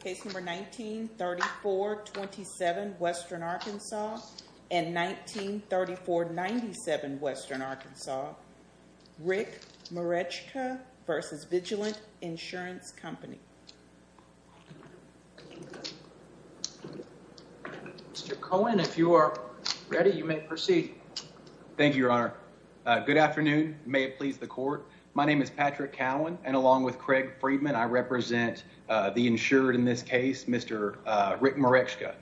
Case number 19-3427 Western Arkansas and 19-3497 Western Arkansas. Rick Merechka v. Vigilant Insurance Company. Mr. Cohen, if you are ready, you may proceed. Thank you, Your Honor. Good afternoon. May it please the court. My name is Patrick Cowan, and along with Craig Freedman, I represent the insured in this case, Mr. Rick Merechka.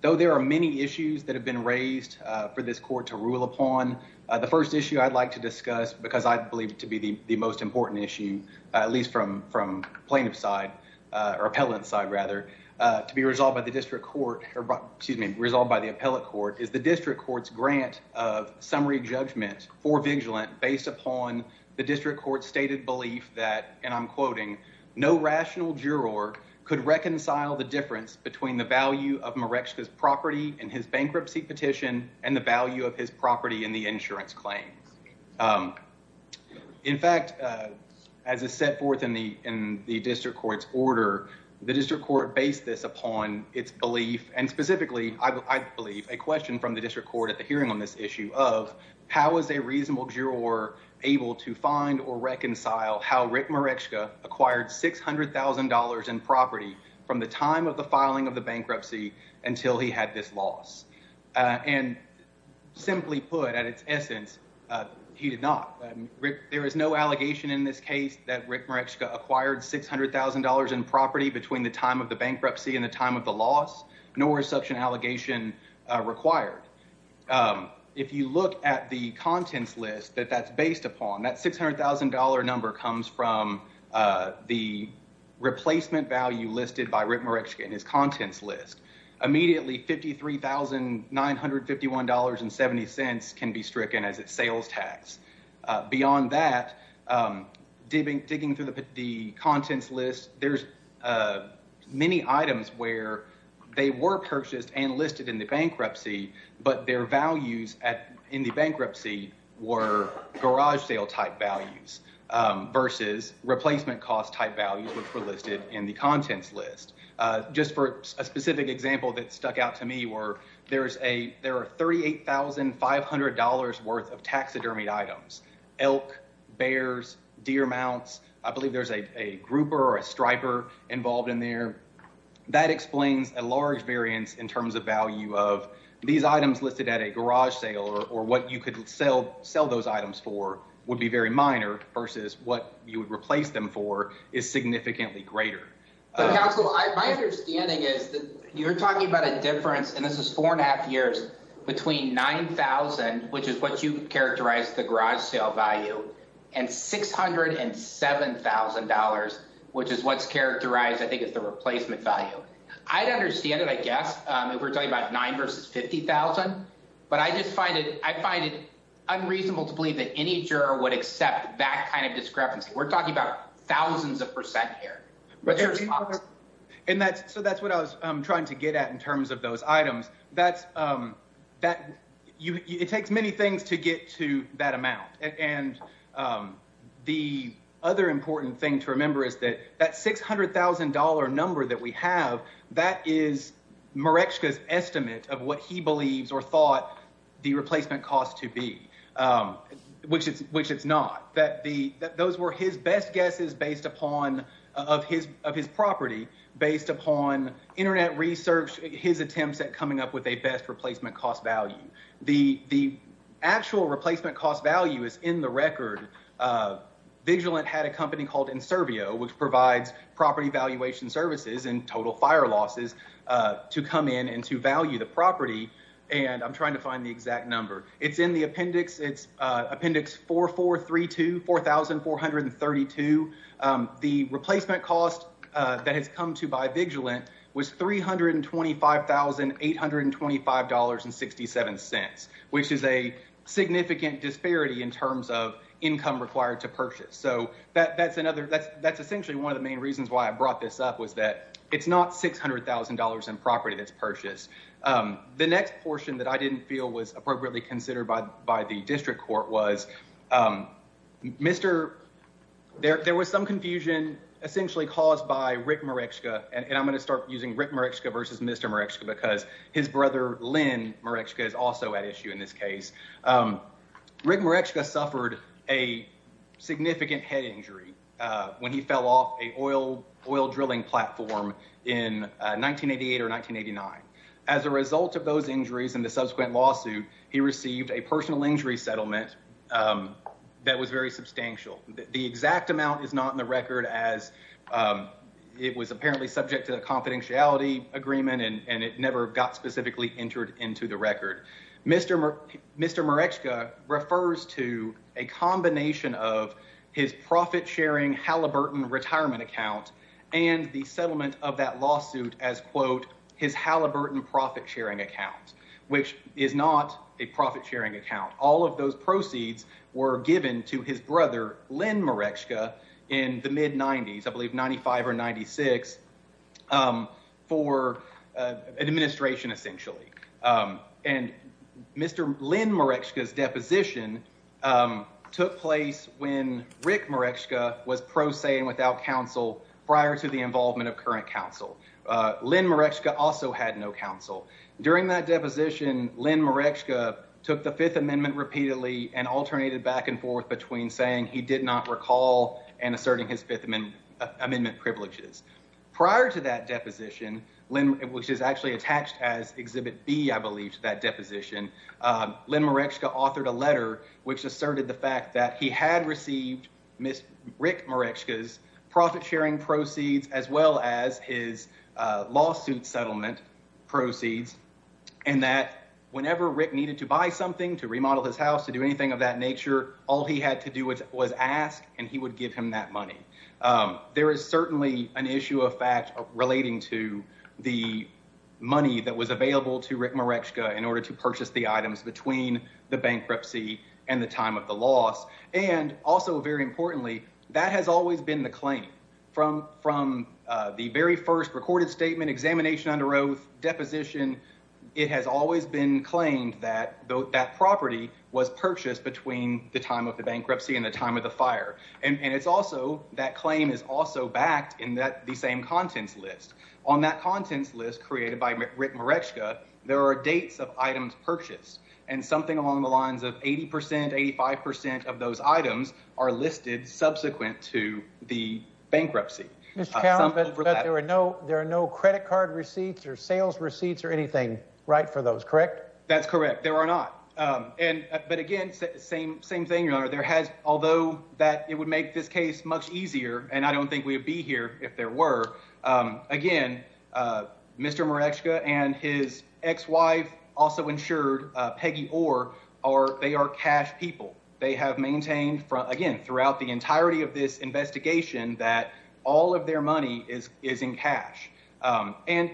Though there are many issues that have been raised for this court to rule upon, the first issue I'd like to discuss, because I believe to be the most important issue, at least from plaintiff's side, or appellant's side rather, to be resolved by the district court, or excuse me, resolved by the appellate court, is the district court's grant of summary judgment for vigilant based upon the district court's stated belief that, and I'm quoting, no rational juror could reconcile the difference between the value of Merechka's property in his bankruptcy petition and the value of his property in the insurance claims. In fact, as is set forth in the district court's order, the district court based this upon its belief, and specifically, I believe, a question from the district court at the hearing on this reasonable juror able to find or reconcile how Rick Merechka acquired $600,000 in property from the time of the filing of the bankruptcy until he had this loss. And simply put, at its essence, he did not. There is no allegation in this case that Rick Merechka acquired $600,000 in property between the time of the bankruptcy and the time of the loss, nor is such an allegation required. If you look at the contents list that that's based upon, that $600,000 number comes from the replacement value listed by Rick Merechka in his contents list. Immediately, $53,951.70 can be stricken as its sales tax. Beyond that, digging through the and listed in the bankruptcy, but their values in the bankruptcy were garage sale type values versus replacement cost type values, which were listed in the contents list. Just for a specific example that stuck out to me, there are $38,500 worth of taxidermied items, elk, bears, deer mounts. I believe there's a grouper or a striper involved in there. That explains a large variance in terms of value of these items listed at a garage sale or what you could sell those items for would be very minor versus what you would replace them for is significantly greater. Counsel, my understanding is that you're talking about a difference, and this is four and a half years, between $9,000, which is what you characterized the value. I'd understand it, I guess, if we're talking about $9,000 versus $50,000, but I just find it unreasonable to believe that any juror would accept that kind of discrepancy. We're talking about thousands of percent here. That's what I was trying to get at in terms of those items. It takes many things to get to that amount. The other important thing to remember is that $600,000 number that we have, that is Mareczka's estimate of what he believes or thought the replacement cost to be, which it's not. Those were his best guesses of his property based upon internet research, his attempts at coming up with a best replacement cost value. The actual replacement cost value is in the record. Vigilant had a company called Inservio, which provides property valuation services and total fire losses to come in and to value the property. I'm trying to find the exact number. It's in the appendix. It's appendix 4432, 4,432. The replacement cost that has come to by Vigilant was $325,825.67, which is a significant disparity in terms of income required to purchase. That's essentially one of the main reasons why I brought this up, was that it's not $600,000 in property that's purchased. The next portion that I didn't feel was appropriately considered by the district court was there was some confusion essentially caused by Rick Mareczka. I'm going to start using Rick Mareczka versus Mr. Mareczka because his brother Lynn Mareczka is also at issue in this case. Rick Mareczka suffered a significant head injury when he fell off an oil drilling platform in 1988 or 1989. As a result of those injuries and the subsequent lawsuit, he received a personal injury settlement that was very substantial. The exact amount is not in the record as it was apparently subject to a settlement that never got specifically entered into the record. Mr. Mareczka refers to a combination of his profit-sharing Halliburton retirement account and the settlement of that lawsuit as, quote, his Halliburton profit-sharing account, which is not a profit-sharing account. All of those proceeds were given to his brother Lynn Mareczka in the mid-90s, I believe 95 or 96, for an administration essentially. And Mr. Lynn Mareczka's deposition took place when Rick Mareczka was pro se and without counsel prior to the involvement of current counsel. Lynn Mareczka also had no counsel. During that deposition, Lynn Mareczka took the Fifth Amendment repeatedly and alternated back and forth between saying he did not recall and asserting his Fifth Amendment privileges. Prior to that deposition, which is actually attached as Exhibit B, I believe, to that deposition, Lynn Mareczka authored a letter which asserted the fact that he had received Rick Mareczka's profit-sharing proceeds as well as his lawsuit settlement proceeds and that whenever Rick needed to buy something, to remodel his house, to do anything of that nature, all he had to do was ask and he would give him that money. There is certainly an issue of fact relating to the money that was available to Rick Mareczka in order to purchase the items between the bankruptcy and the time of the loss. And also very importantly, that has always been the claim from the very first recorded statement, examination under oath, deposition, it has always been claimed that that property was purchased between the time of the bankruptcy and the time of the fire. And it's also, that claim is also backed in the same contents list. On that contents list created by Rick Mareczka, there are dates of items purchased and something along the lines of 80%, 85% of those items are listed subsequent to the bankruptcy. But there are no, there are no credit card receipts or sales receipts or anything right for those, correct? That's correct. There are not. And, but again, same, same thing, your honor. There has, although that it would make this case much easier and I don't think we'd be here if there were, again, Mr. Mareczka and his ex-wife also insured Peggy Orr, they are cash that all of their money is, is in cash. And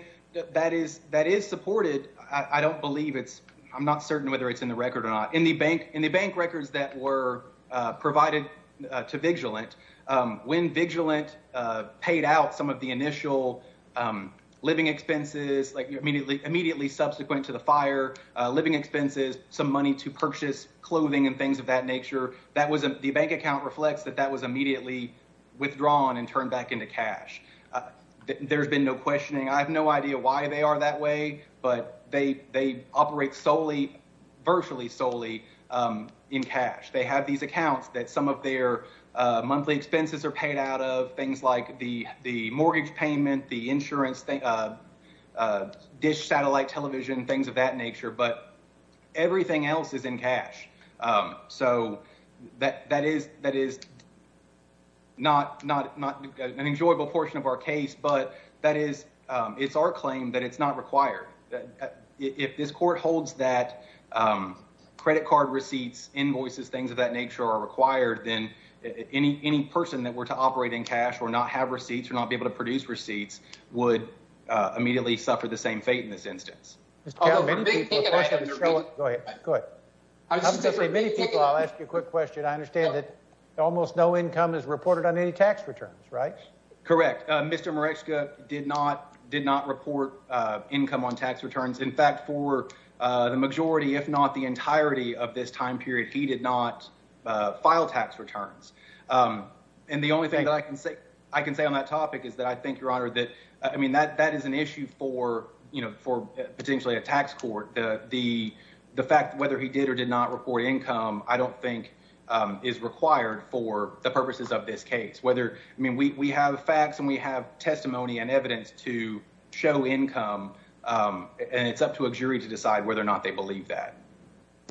that is, that is supported. I don't believe it's, I'm not certain whether it's in the record or not. In the bank, in the bank records that were provided to Vigilant, when Vigilant paid out some of the initial living expenses, like immediately, immediately subsequent to the fire, living expenses, some money to purchase clothing and things of that nature. That was the bank account reflects that that was immediately withdrawn and turned back into cash. There's been no questioning. I have no idea why they are that way, but they, they operate solely, virtually solely in cash. They have these accounts that some of their monthly expenses are paid out of things like the, the mortgage payment, the insurance thing dish satellite television, things of that nature, but everything else is cash. So that, that is, that is not, not, not an enjoyable portion of our case, but that is, it's our claim that it's not required. If this court holds that credit card receipts, invoices, things of that nature are required, then any, any person that were to operate in cash or not have receipts or not be able to produce receipts would immediately suffer the same fate in this many people. I'll ask you a quick question. I understand that almost no income is reported on any tax returns, right? Correct. Mr. Moretzka did not, did not report income on tax returns. In fact, for the majority, if not the entirety of this time period, he did not file tax returns. And the only thing that I can say, I can say on that topic is that I think your honor that, I mean, that, that is an issue for, you know, for potentially a tax court, the, the fact that whether he did or did not report income, I don't think is required for the purposes of this case, whether, I mean, we, we have facts and we have testimony and evidence to show income and it's up to a jury to decide whether or not they believe that.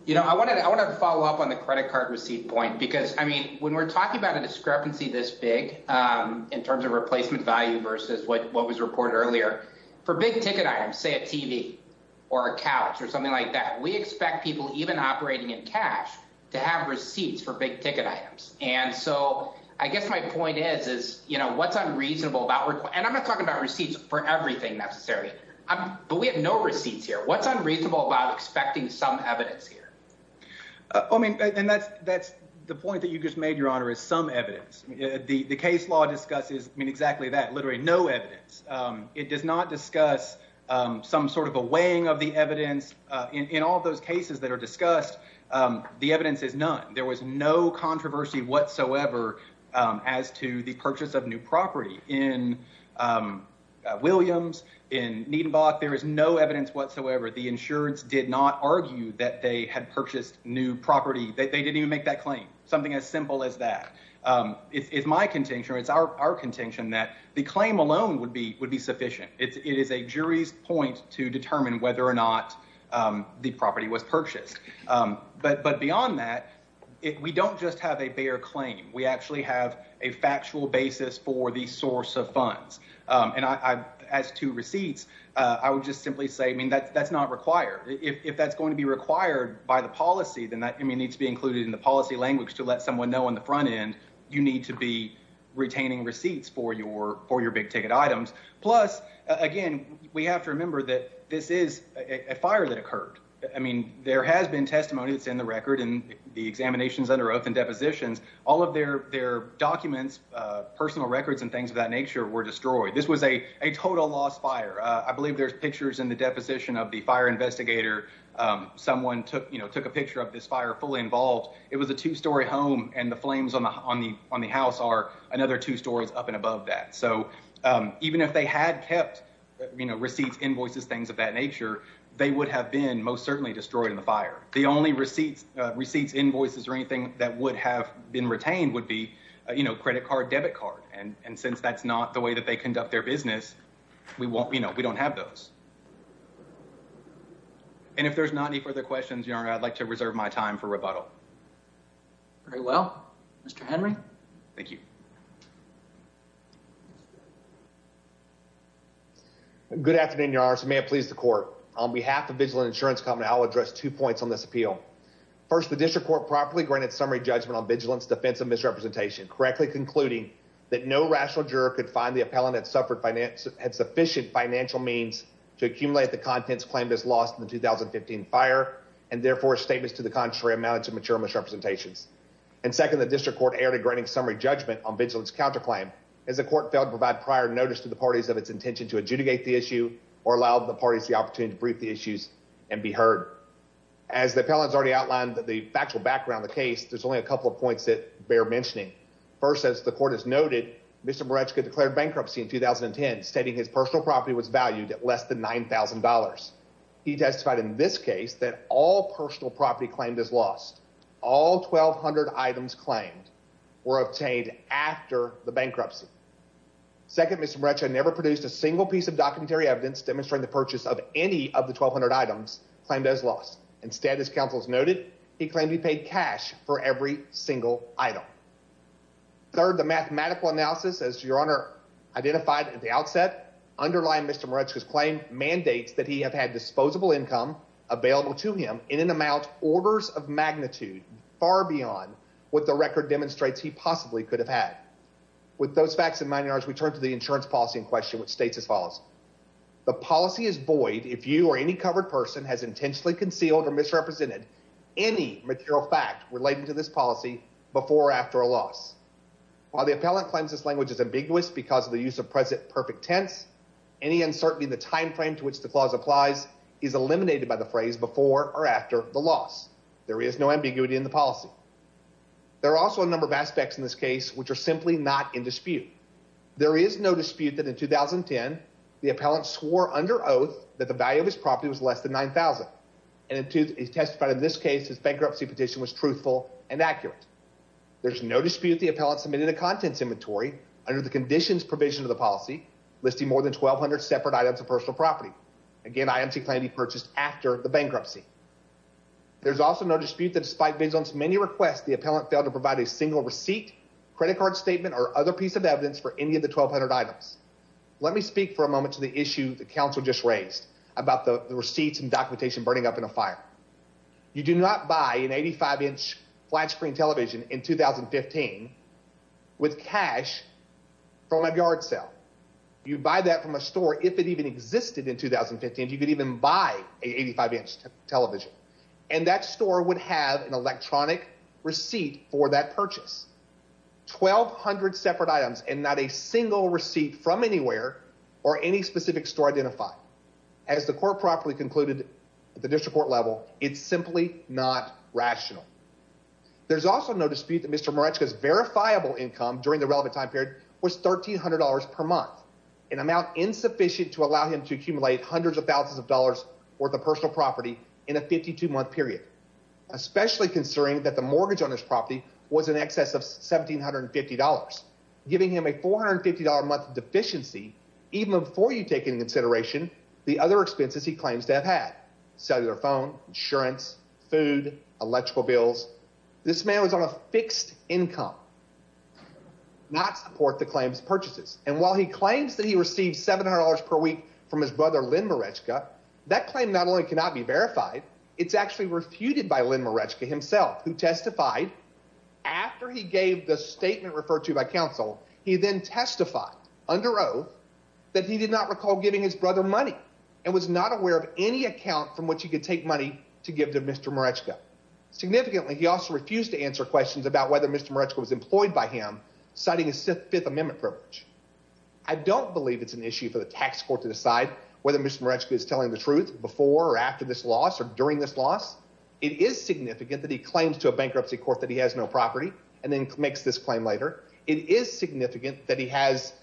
You know, I want to, I want to follow up on the credit card receipt point, because I mean, when we're talking about a discrepancy this big in terms of replacement value versus what, say a TV or a couch or something like that, we expect people even operating in cash to have receipts for big ticket items. And so I guess my point is, is, you know, what's unreasonable about and I'm not talking about receipts for everything necessarily, but we have no receipts here. What's unreasonable about expecting some evidence here. I mean, and that's, that's the point that you just made your honor is some evidence. The, the case law discusses, I mean, exactly that no evidence. It does not discuss some sort of a weighing of the evidence in all of those cases that are discussed. The evidence is none. There was no controversy whatsoever as to the purchase of new property in Williams, in Niedenbach. There is no evidence whatsoever. The insurance did not argue that they had purchased new property. They didn't even make that claim. Something as simple as that. It's my contention or it's our contention that the claim alone would be, would be sufficient. It's, it is a jury's point to determine whether or not the property was purchased. But, but beyond that, if we don't just have a bare claim, we actually have a factual basis for the source of funds. And I, as to receipts, I would just simply say, I mean, that's, that's not required. If that's going to be required by the policy, then that needs to be included in the policy language to let someone know on the front end, you need to be retaining receipts for your, for your big ticket items. Plus again, we have to remember that this is a fire that occurred. I mean, there has been testimony that's in the record and the examinations under oath and depositions, all of their, their documents, personal records and things of that nature were destroyed. This was a, a total lost fire. I believe there's pictures in the deposition of the fire investigator. Someone took, you know, this fire fully involved. It was a two story home and the flames on the, on the, on the house are another two stories up and above that. So even if they had kept, you know, receipts, invoices, things of that nature, they would have been most certainly destroyed in the fire. The only receipts, receipts, invoices, or anything that would have been retained would be, you know, credit card, debit card. And since that's not the way that they conduct their business, we won't, you know, we don't have those. And if there's not any further questions, your honor, I'd like to reserve my time for rebuttal. Very well, Mr. Henry. Thank you. Good afternoon, your honor. So may it please the court on behalf of vigilant insurance company, I'll address two points on this appeal. First, the district court properly granted summary judgment on vigilance, defensive misrepresentation, correctly concluding that no rational juror could find the appellant that suffered finance had sufficient financial means to accumulate the contents claimed as lost in the 2015 fire and therefore statements to the contrary amounted to mature misrepresentations. And second, the district court aired a granting summary judgment on vigilance counterclaim as the court failed to provide prior notice to the parties of its intention to adjudicate the issue or allow the parties the opportunity to brief the issues and be heard. As the appellants already outlined that the factual background of the case, there's only a couple of points that bear mentioning. First, as the court has noted, Mr. Burechka declared bankruptcy in 2010, stating his personal property was valued at less than $9,000. He testified in this case that all personal property claimed as lost, all 1200 items claimed were obtained after the bankruptcy. Second, Mr. Burechka never produced a single piece of documentary evidence demonstrating the purchase of any of the 1200 items claimed as lost. Instead, as counsel's noted, he claimed he paid cash for every single item. Third, the mathematical analysis, as your honor identified at the outset, underlying Mr. Burechka's claim mandates that he have had disposable income available to him in an amount orders of magnitude far beyond what the record demonstrates he possibly could have had. With those facts in mind, your honors, we turn to the insurance policy in question, which states as follows. The policy is void if you or any covered person has intentionally concealed or misrepresented any material fact relating to this loss. While the appellant claims this language is ambiguous because of the use of present perfect tense, any uncertainty in the time frame to which the clause applies is eliminated by the phrase before or after the loss. There is no ambiguity in the policy. There are also a number of aspects in this case which are simply not in dispute. There is no dispute that in 2010, the appellant swore under oath that the value of his property was less than $9,000, and he testified in this case his bankruptcy petition was truthful and accurate. There's no dispute the appellant submitted a contents inventory under the conditions provision of the policy listing more than 1,200 separate items of personal property. Again, IMC claimed he purchased after the bankruptcy. There's also no dispute that despite vigilance many requests, the appellant failed to provide a single receipt, credit card statement, or other piece of evidence for any of the 1,200 items. Let me speak for a moment to the issue the counsel just raised about the receipts and buy an 85-inch flat screen television in 2015 with cash from a yard sale. You buy that from a store if it even existed in 2015. You could even buy an 85-inch television, and that store would have an electronic receipt for that purchase. 1,200 separate items and not a single receipt from anywhere or any specific store identified. As the court properly concluded at the district court it's simply not rational. There's also no dispute that Mr. Moretzka's verifiable income during the relevant time period was $1,300 per month, an amount insufficient to allow him to accumulate hundreds of thousands of dollars worth of personal property in a 52-month period, especially considering that the mortgage on his property was in excess of $1,750, giving him a $450-a-month deficiency even before you take into consideration the other expenses he claims to have had, cellular phone, insurance, food, electrical bills. This man was on a fixed income, not support the claims purchases. And while he claims that he received $700 per week from his brother Lynn Moretzka, that claim not only cannot be verified, it's actually refuted by Lynn Moretzka himself, who testified after he gave the statement referred to by counsel. He then testified under that he did not recall giving his brother money and was not aware of any account from which he could take money to give to Mr. Moretzka. Significantly, he also refused to answer questions about whether Mr. Moretzka was employed by him, citing his Fifth Amendment privilege. I don't believe it's an issue for the tax court to decide whether Mr. Moretzka is telling the truth before or after this loss or during this loss. It is significant that he claims to a bankruptcy court that he has no property and then makes this claim later. It is significant that he has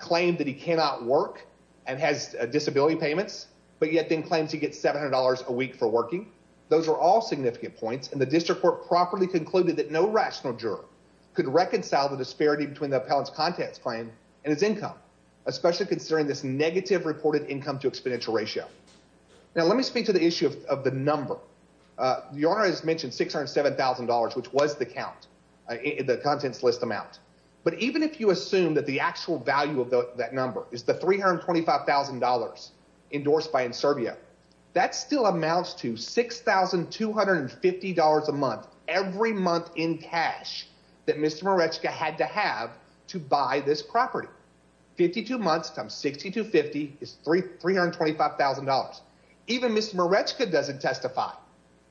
claimed that he cannot work and has disability payments, but yet then claims he gets $700 a week for working. Those are all significant points. And the district court properly concluded that no rational juror could reconcile the disparity between the appellant's contents claim and his income, especially considering this negative reported income to exponential ratio. Now, let me speak to the issue of the number. Your Honor has mentioned $607,000, which was the count, the contents list amount. But even if you assume that the actual value of that number is the $325,000 endorsed by Inservio, that still amounts to $6,250 a month, every month in cash that Mr. Moretzka had to have to buy this property. 52 months times 60 to 50 is $325,000. Even Mr. Moretzka doesn't testify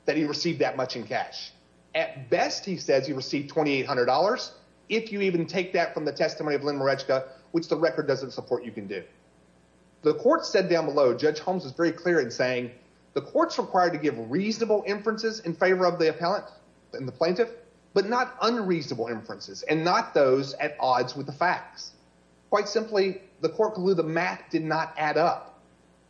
that he received that much in cash. At best, he says he received $2,800. If you even take that from the testimony of Lynn Moretzka, which the record doesn't support, you can do. The court said down below, Judge Holmes is very clear in saying the court's required to give reasonable inferences in favor of the appellant and the plaintiff, but not unreasonable inferences and not those at odds with the facts. Quite simply, the court believe the math did not add up.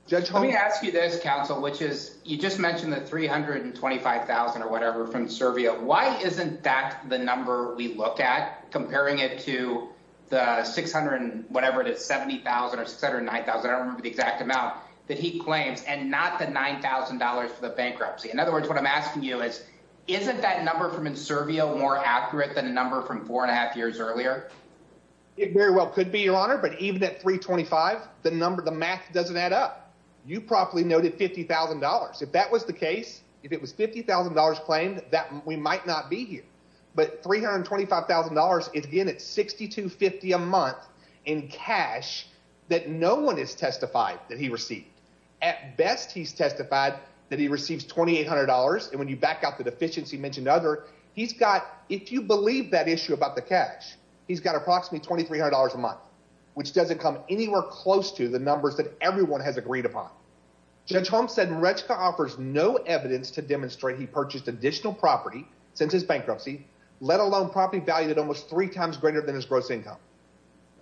Judge, let me ask you this counsel, which is you just mentioned the $325,000 or whatever from Inservio. Why isn't that the number we look at comparing it to the 600 and whatever it is, 70,000 or 600 and 9,000, I don't remember the exact amount that he claims and not the $9,000 for the bankruptcy? In other words, what I'm asking you is, isn't that number from Inservio more accurate than a number from four and a half years earlier? It very well could be your honor, but even at 325, the math doesn't add up. You properly noted $50,000. If that was the case, if it was $50,000 claimed that we might not be here, but $325,000 is again at $6,250 a month in cash that no one has testified that he received. At best, he's testified that he receives $2,800. And when you back out the deficiency mentioned other, he's got, if you believe that issue about the cash, he's got approximately $2,300 a month, which doesn't come anywhere close to the numbers that everyone has agreed upon. Judge Holmes said, Rechka offers no evidence to demonstrate he purchased additional property since his bankruptcy, let alone property value at almost three times greater than his gross income.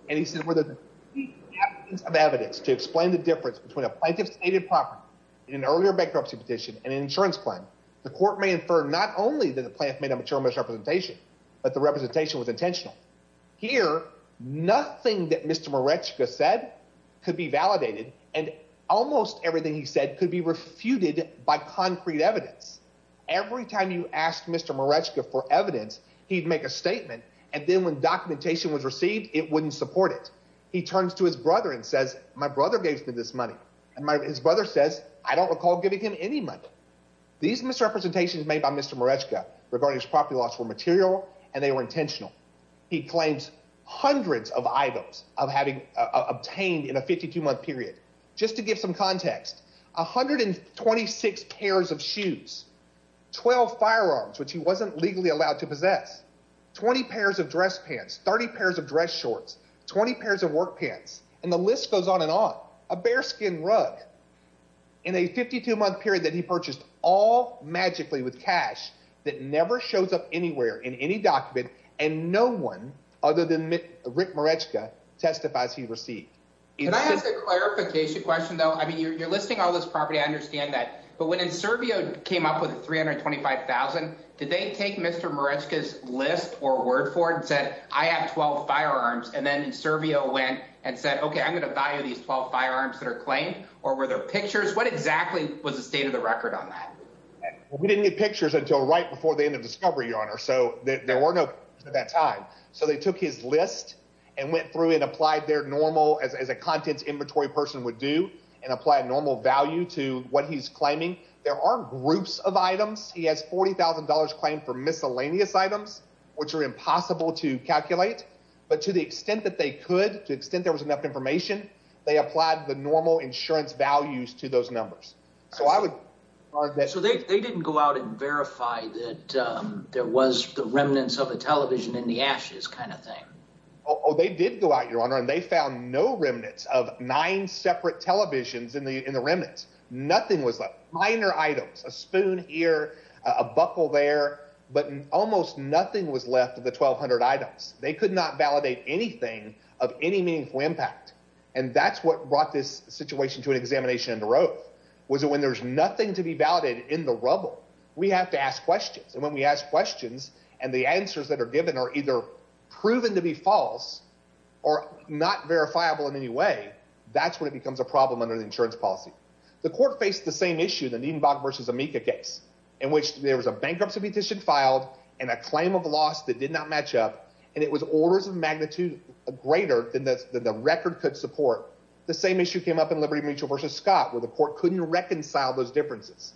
And he said, where the evidence to explain the difference between a plaintiff stated property in an earlier bankruptcy petition and an insurance plan, the court may infer not only that the plant made a mature misrepresentation, but the representation was intentional. Here, nothing that Mr. Morechka said could be validated. And almost everything he said could be refuted by concrete evidence. Every time you asked Mr. Morechka for evidence, he'd make a statement. And then when documentation was received, it wouldn't support it. He turns to his brother and says, my brother gave me this money. And my, his brother says, I don't recall giving him any money. These misrepresentations made by Mr. Morechka regarding his property loss were material and they were intentional. He claims hundreds of items of having obtained in a 52 month period, just to give some context, 126 pairs of shoes, 12 firearms, which he wasn't legally allowed to possess 20 pairs of dress pants, 30 pairs of dress shorts, 20 pairs of work pants. And the list goes on and on a bare skin rug in a 52 month period that he purchased all magically with cash that never shows up anywhere in any document. And no one other than Rick Morechka testifies he received. Can I ask a clarification question though? I mean, you're listing all this property. I understand that, but when Inservio came up with 325,000, did they take Mr. Morechka's list or word for it and said, I have 12 firearms. And then Inservio went and said, okay, I'm going to value these 12 firearms that are claimed or where their pictures, what exactly was the state of the record on that? We didn't get pictures until right before the end of discovery, your honor. So there were no at that time. So they took his list and went through and applied their normal as, as a contents inventory person would do and apply a normal value to what he's claiming. There are groups of items. He has $40,000 claim for miscellaneous items, which are impossible to calculate, but to the extent that they could to extent, there was enough information. They applied the normal insurance values to those numbers. So I would. So they, they didn't go out and verify that, um, there was the remnants of the television in the ashes kind of thing. Oh, they did go out, your honor. And they found no remnants of nine separate televisions in the, in the remnants. Nothing was left minor items, a spoon here, a buckle there, but almost nothing was left of the 1200 items. They could not validate anything of any meaningful impact. And that's what brought this situation to an examination in the road. So when there's nothing to be validated in the rubble, we have to ask questions. And when we ask questions and the answers that are given are either proven to be false or not verifiable in any way, that's when it becomes a problem under the insurance policy. The court faced the same issue that needn't Bob versus Amika case in which there was a bankruptcy petition filed and a claim of loss that did not match up. And it was orders of magnitude greater than the record could support. The same issue came up in Liberty mutual versus Scott, where the court couldn't reconcile those differences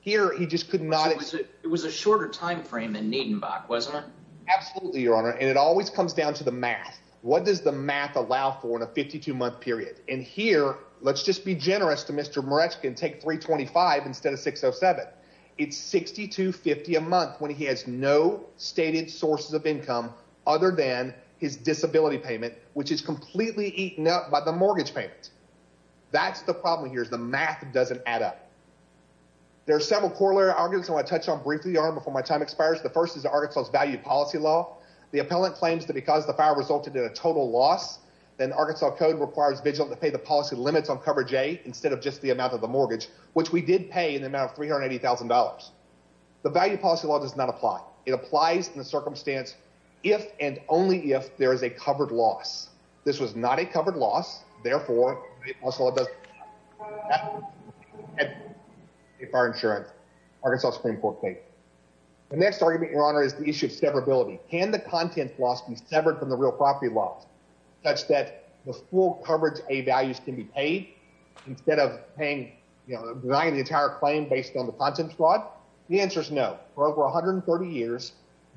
here. He just could not, it was a shorter timeframe and needn't back. Wasn't it? Absolutely. Your honor. And it always comes down to the math. What does the math allow for in a 52 month period in here? Let's just be generous to Mr. Moretz can take three 25 instead of six Oh seven it's 62 50 a month when he has no stated sources of income other than his disability payment, which is completely eaten up by the mortgage payment. That's the problem here is the math doesn't add up. There are several corollary arguments. I want to touch on briefly before my time expires. The first is the Arkansas value policy law. The appellant claims that because the fire resulted in a total loss, then Arkansas code requires vigil to pay the policy limits on cover J instead of just the amount of the mortgage, which we did pay in the amount of $380,000. The value policy law does not apply. It applies in the circumstance if and only if there is a covered loss. This was not a covered loss. Therefore, it also does if our insurance Arkansas Supreme Court case. The next argument your honor is the issue of severability. Can the content loss be severed from the real property loss such that the full coverage a values can be paid instead of paying, you know, denying the entire claim based on the The answer is no. For over 130 years,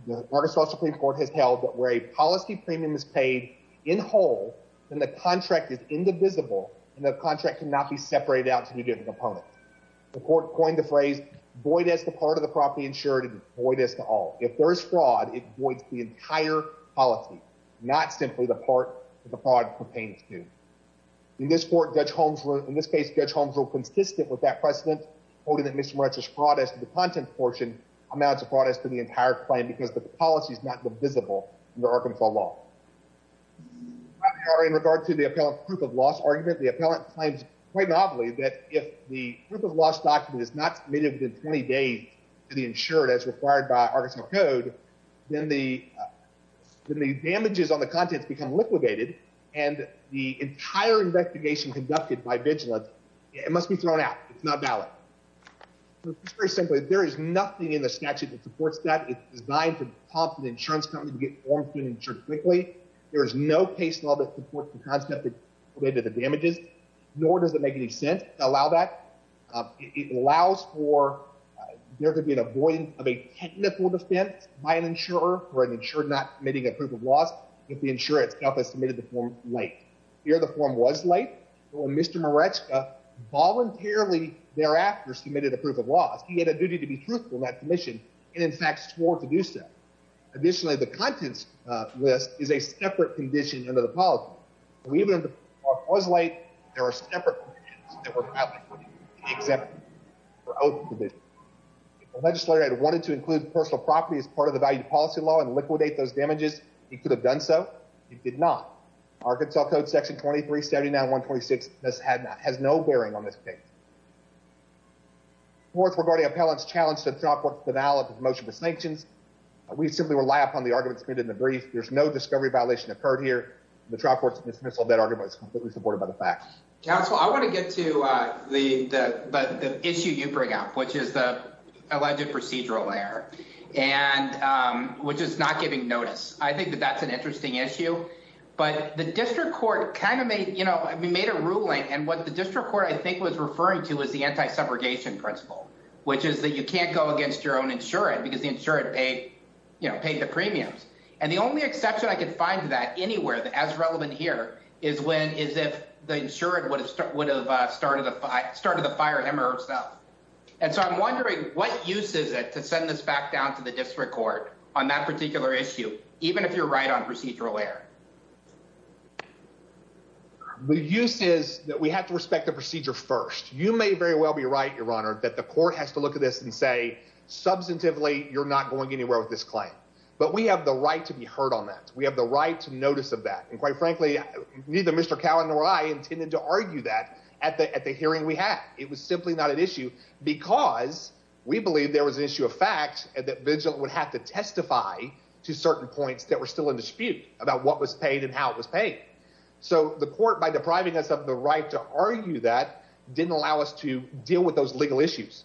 the Arkansas Supreme Court has held that where a policy premium is paid in whole, then the contract is indivisible and the contract cannot be separated out to be given to the opponent. The court coined the phrase void as the part of the property insured and void as to all. If there is fraud, it voids the entire policy, not simply the part that the fraud pertains to. In this court, Judge Holmes, in this case, Judge Holmes, consistent with that precedent, holding that Mr. Morales is brought as the content portion amounts of brought us to the entire claim because the policy is not visible in the Arkansas law. In regard to the appellant proof of loss argument, the appellant claims quite novelly that if the proof of loss document is not submitted within 20 days to the insured as required by Arkansas code, then the damages on the contents become liquidated and the entire investigation conducted by vigilance, it must be thrown out. It's not valid. Very simply, there is nothing in the statute that supports that. It's designed to pump the insurance company to get forms being insured quickly. There is no case law that supports the concept that related to the damages, nor does it make any sense to allow that. It allows for, there could be an avoidance of a technical defense by an insurer for an insured not committing a proof of loss if the insurer has submitted the form late. Here, the form was late. Mr. Moretzka voluntarily thereafter submitted a proof of loss. He had a duty to be truthful in that commission and in fact, swore to do so. Additionally, the contents list is a separate condition under the policy. Even if the form was late, there are separate conditions that were probably exempted. If the legislator had wanted to include personal property as part of the value policy law and did not, Arkansas Code Section 2379-126 has no bearing on this case. Fourth, regarding appellant's challenge to trial court's denial of the motion for sanctions, we simply rely upon the argument submitted in the brief. There's no discovery violation occurred here. The trial court's dismissal of that argument is completely supported by the facts. Counsel, I want to get to the issue you bring up, which is the alleged procedural error, and which is not giving notice. I think that that's an interesting issue, but the district court kind of made, you know, we made a ruling and what the district court I think was referring to was the anti-segregation principle, which is that you can't go against your own insured because the insured paid, you know, paid the premiums. And the only exception I could find to that anywhere that as relevant here is when, is if the insured would have started the fire him or herself. And so I'm wondering what use is it to send this back down to the district court on that particular issue, even if you're right on procedural error? The use is that we have to respect the procedure first. You may very well be right, your honor, that the court has to look at this and say, substantively, you're not going anywhere with this claim. But we have the right to be heard on that. We have the right to notice of that. And it was simply not an issue because we believe there was an issue of fact that vigilant would have to testify to certain points that were still in dispute about what was paid and how it was paid. So the court, by depriving us of the right to argue that didn't allow us to deal with those legal issues.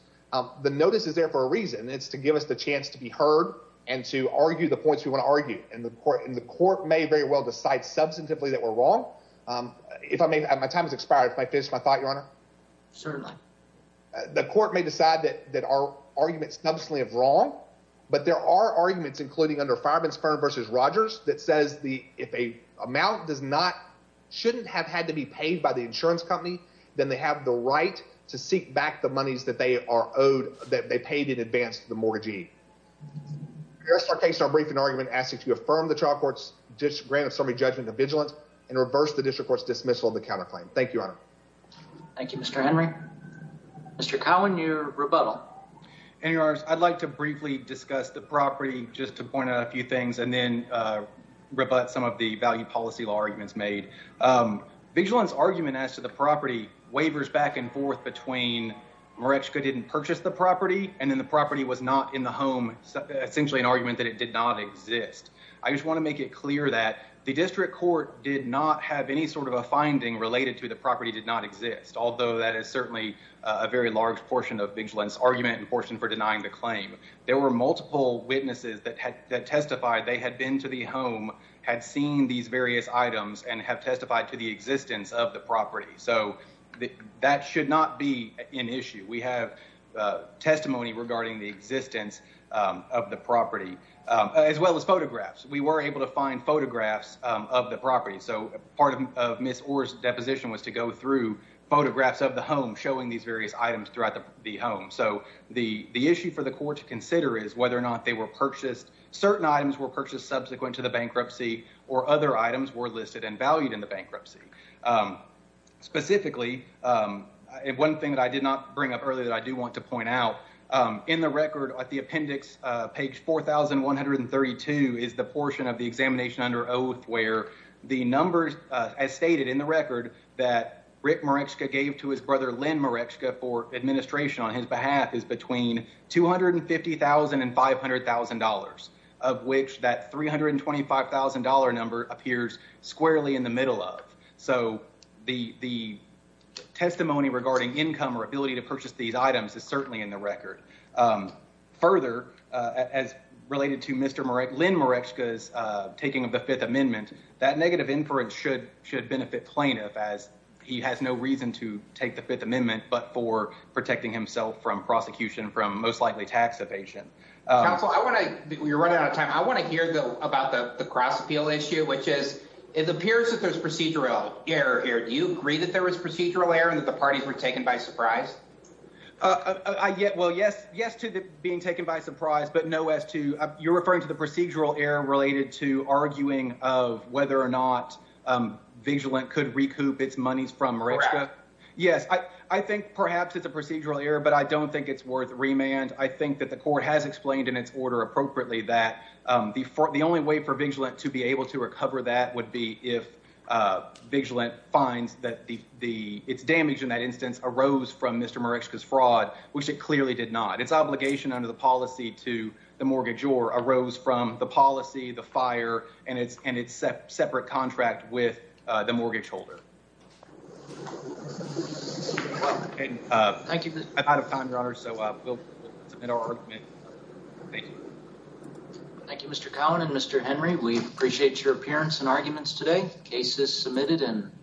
The notice is there for a reason. It's to give us the chance to be heard and to argue the points we want to argue. And the court may very well decide substantively that we're wrong. The court may decide that our argument is wrong, but there are arguments, including under Fireman's Firm v. Rogers, that says if an amount shouldn't have had to be paid by the insurance company, then they have the right to seek back the monies that they are owed, that they paid in advance of the mortgagee. Our case, our briefing argument asks that you affirm the trial court's grant of summary judgment of vigilance and reverse the district court's dismissal of the counterclaim. Thank you, Your Honor. Thank you, Mr. Henry. Mr. Cowan, your rebuttal. Anyhow, I'd like to briefly discuss the property, just to point out a few things, and then rebut some of the value policy law arguments made. Vigilant's argument as to the property wavers back and forth between Mareczka didn't purchase the property and then the property was not in the home, essentially an argument that it did not exist. I just want to make it clear that the district court did not have any sort of a finding related to the property did not exist, although that is certainly a very large portion of Vigilant's argument and portion for denying the claim. There were multiple witnesses that had testified they had been to the home, had seen these various items, and have testified to the existence of the property, so that should not be an issue. We have testimony regarding the existence of the property, as well as photographs. We were of the property, so part of Ms. Orr's deposition was to go through photographs of the home, showing these various items throughout the home. So the issue for the court to consider is whether or not they were purchased. Certain items were purchased subsequent to the bankruptcy, or other items were listed and valued in the bankruptcy. Specifically, one thing that I did not bring up earlier that I do want to point out, in the record at the appendix, page 4132, is the portion of the examination under oath where the numbers, as stated in the record, that Rick Mareczka gave to his brother, Len Mareczka, for administration on his behalf is between $250,000 and $500,000, of which that $325,000 number appears squarely in the middle of. So the testimony regarding income or ability to purchase these items is certainly in the record. Further, as related to Mr. Mareczka's taking of the Fifth Amendment, that negative inference should benefit plaintiff, as he has no reason to take the Fifth Amendment but for protecting himself from prosecution from most likely tax evasion. Counsel, you're running out of time. I want to hear about the cross-appeal issue, which is, it appears that there's procedural error here. Do you agree that there was procedural error and that the parties were taken by surprise? I get, well, yes, yes to being taken by surprise, but no as to, you're referring to the procedural error related to arguing of whether or not Vigilant could recoup its monies from Mareczka? Correct. Yes, I think perhaps it's a procedural error, but I don't think it's worth remand. I think that the court has explained in its order appropriately that the only way for Vigilant to be able to recover that would be if Vigilant finds that its damage in that instance arose from Mr. Mareczka's fraud, which it clearly did not. Its obligation under the policy to the mortgagor arose from the policy, the fire, and its separate contract with the mortgage holder. Thank you. I'm out of time, Your Honor, so we'll submit our argument. Thank you. Thank you, Mr. Cowan and Mr. Henry. We appreciate your appearance and arguments today. Case is submitted and we'll...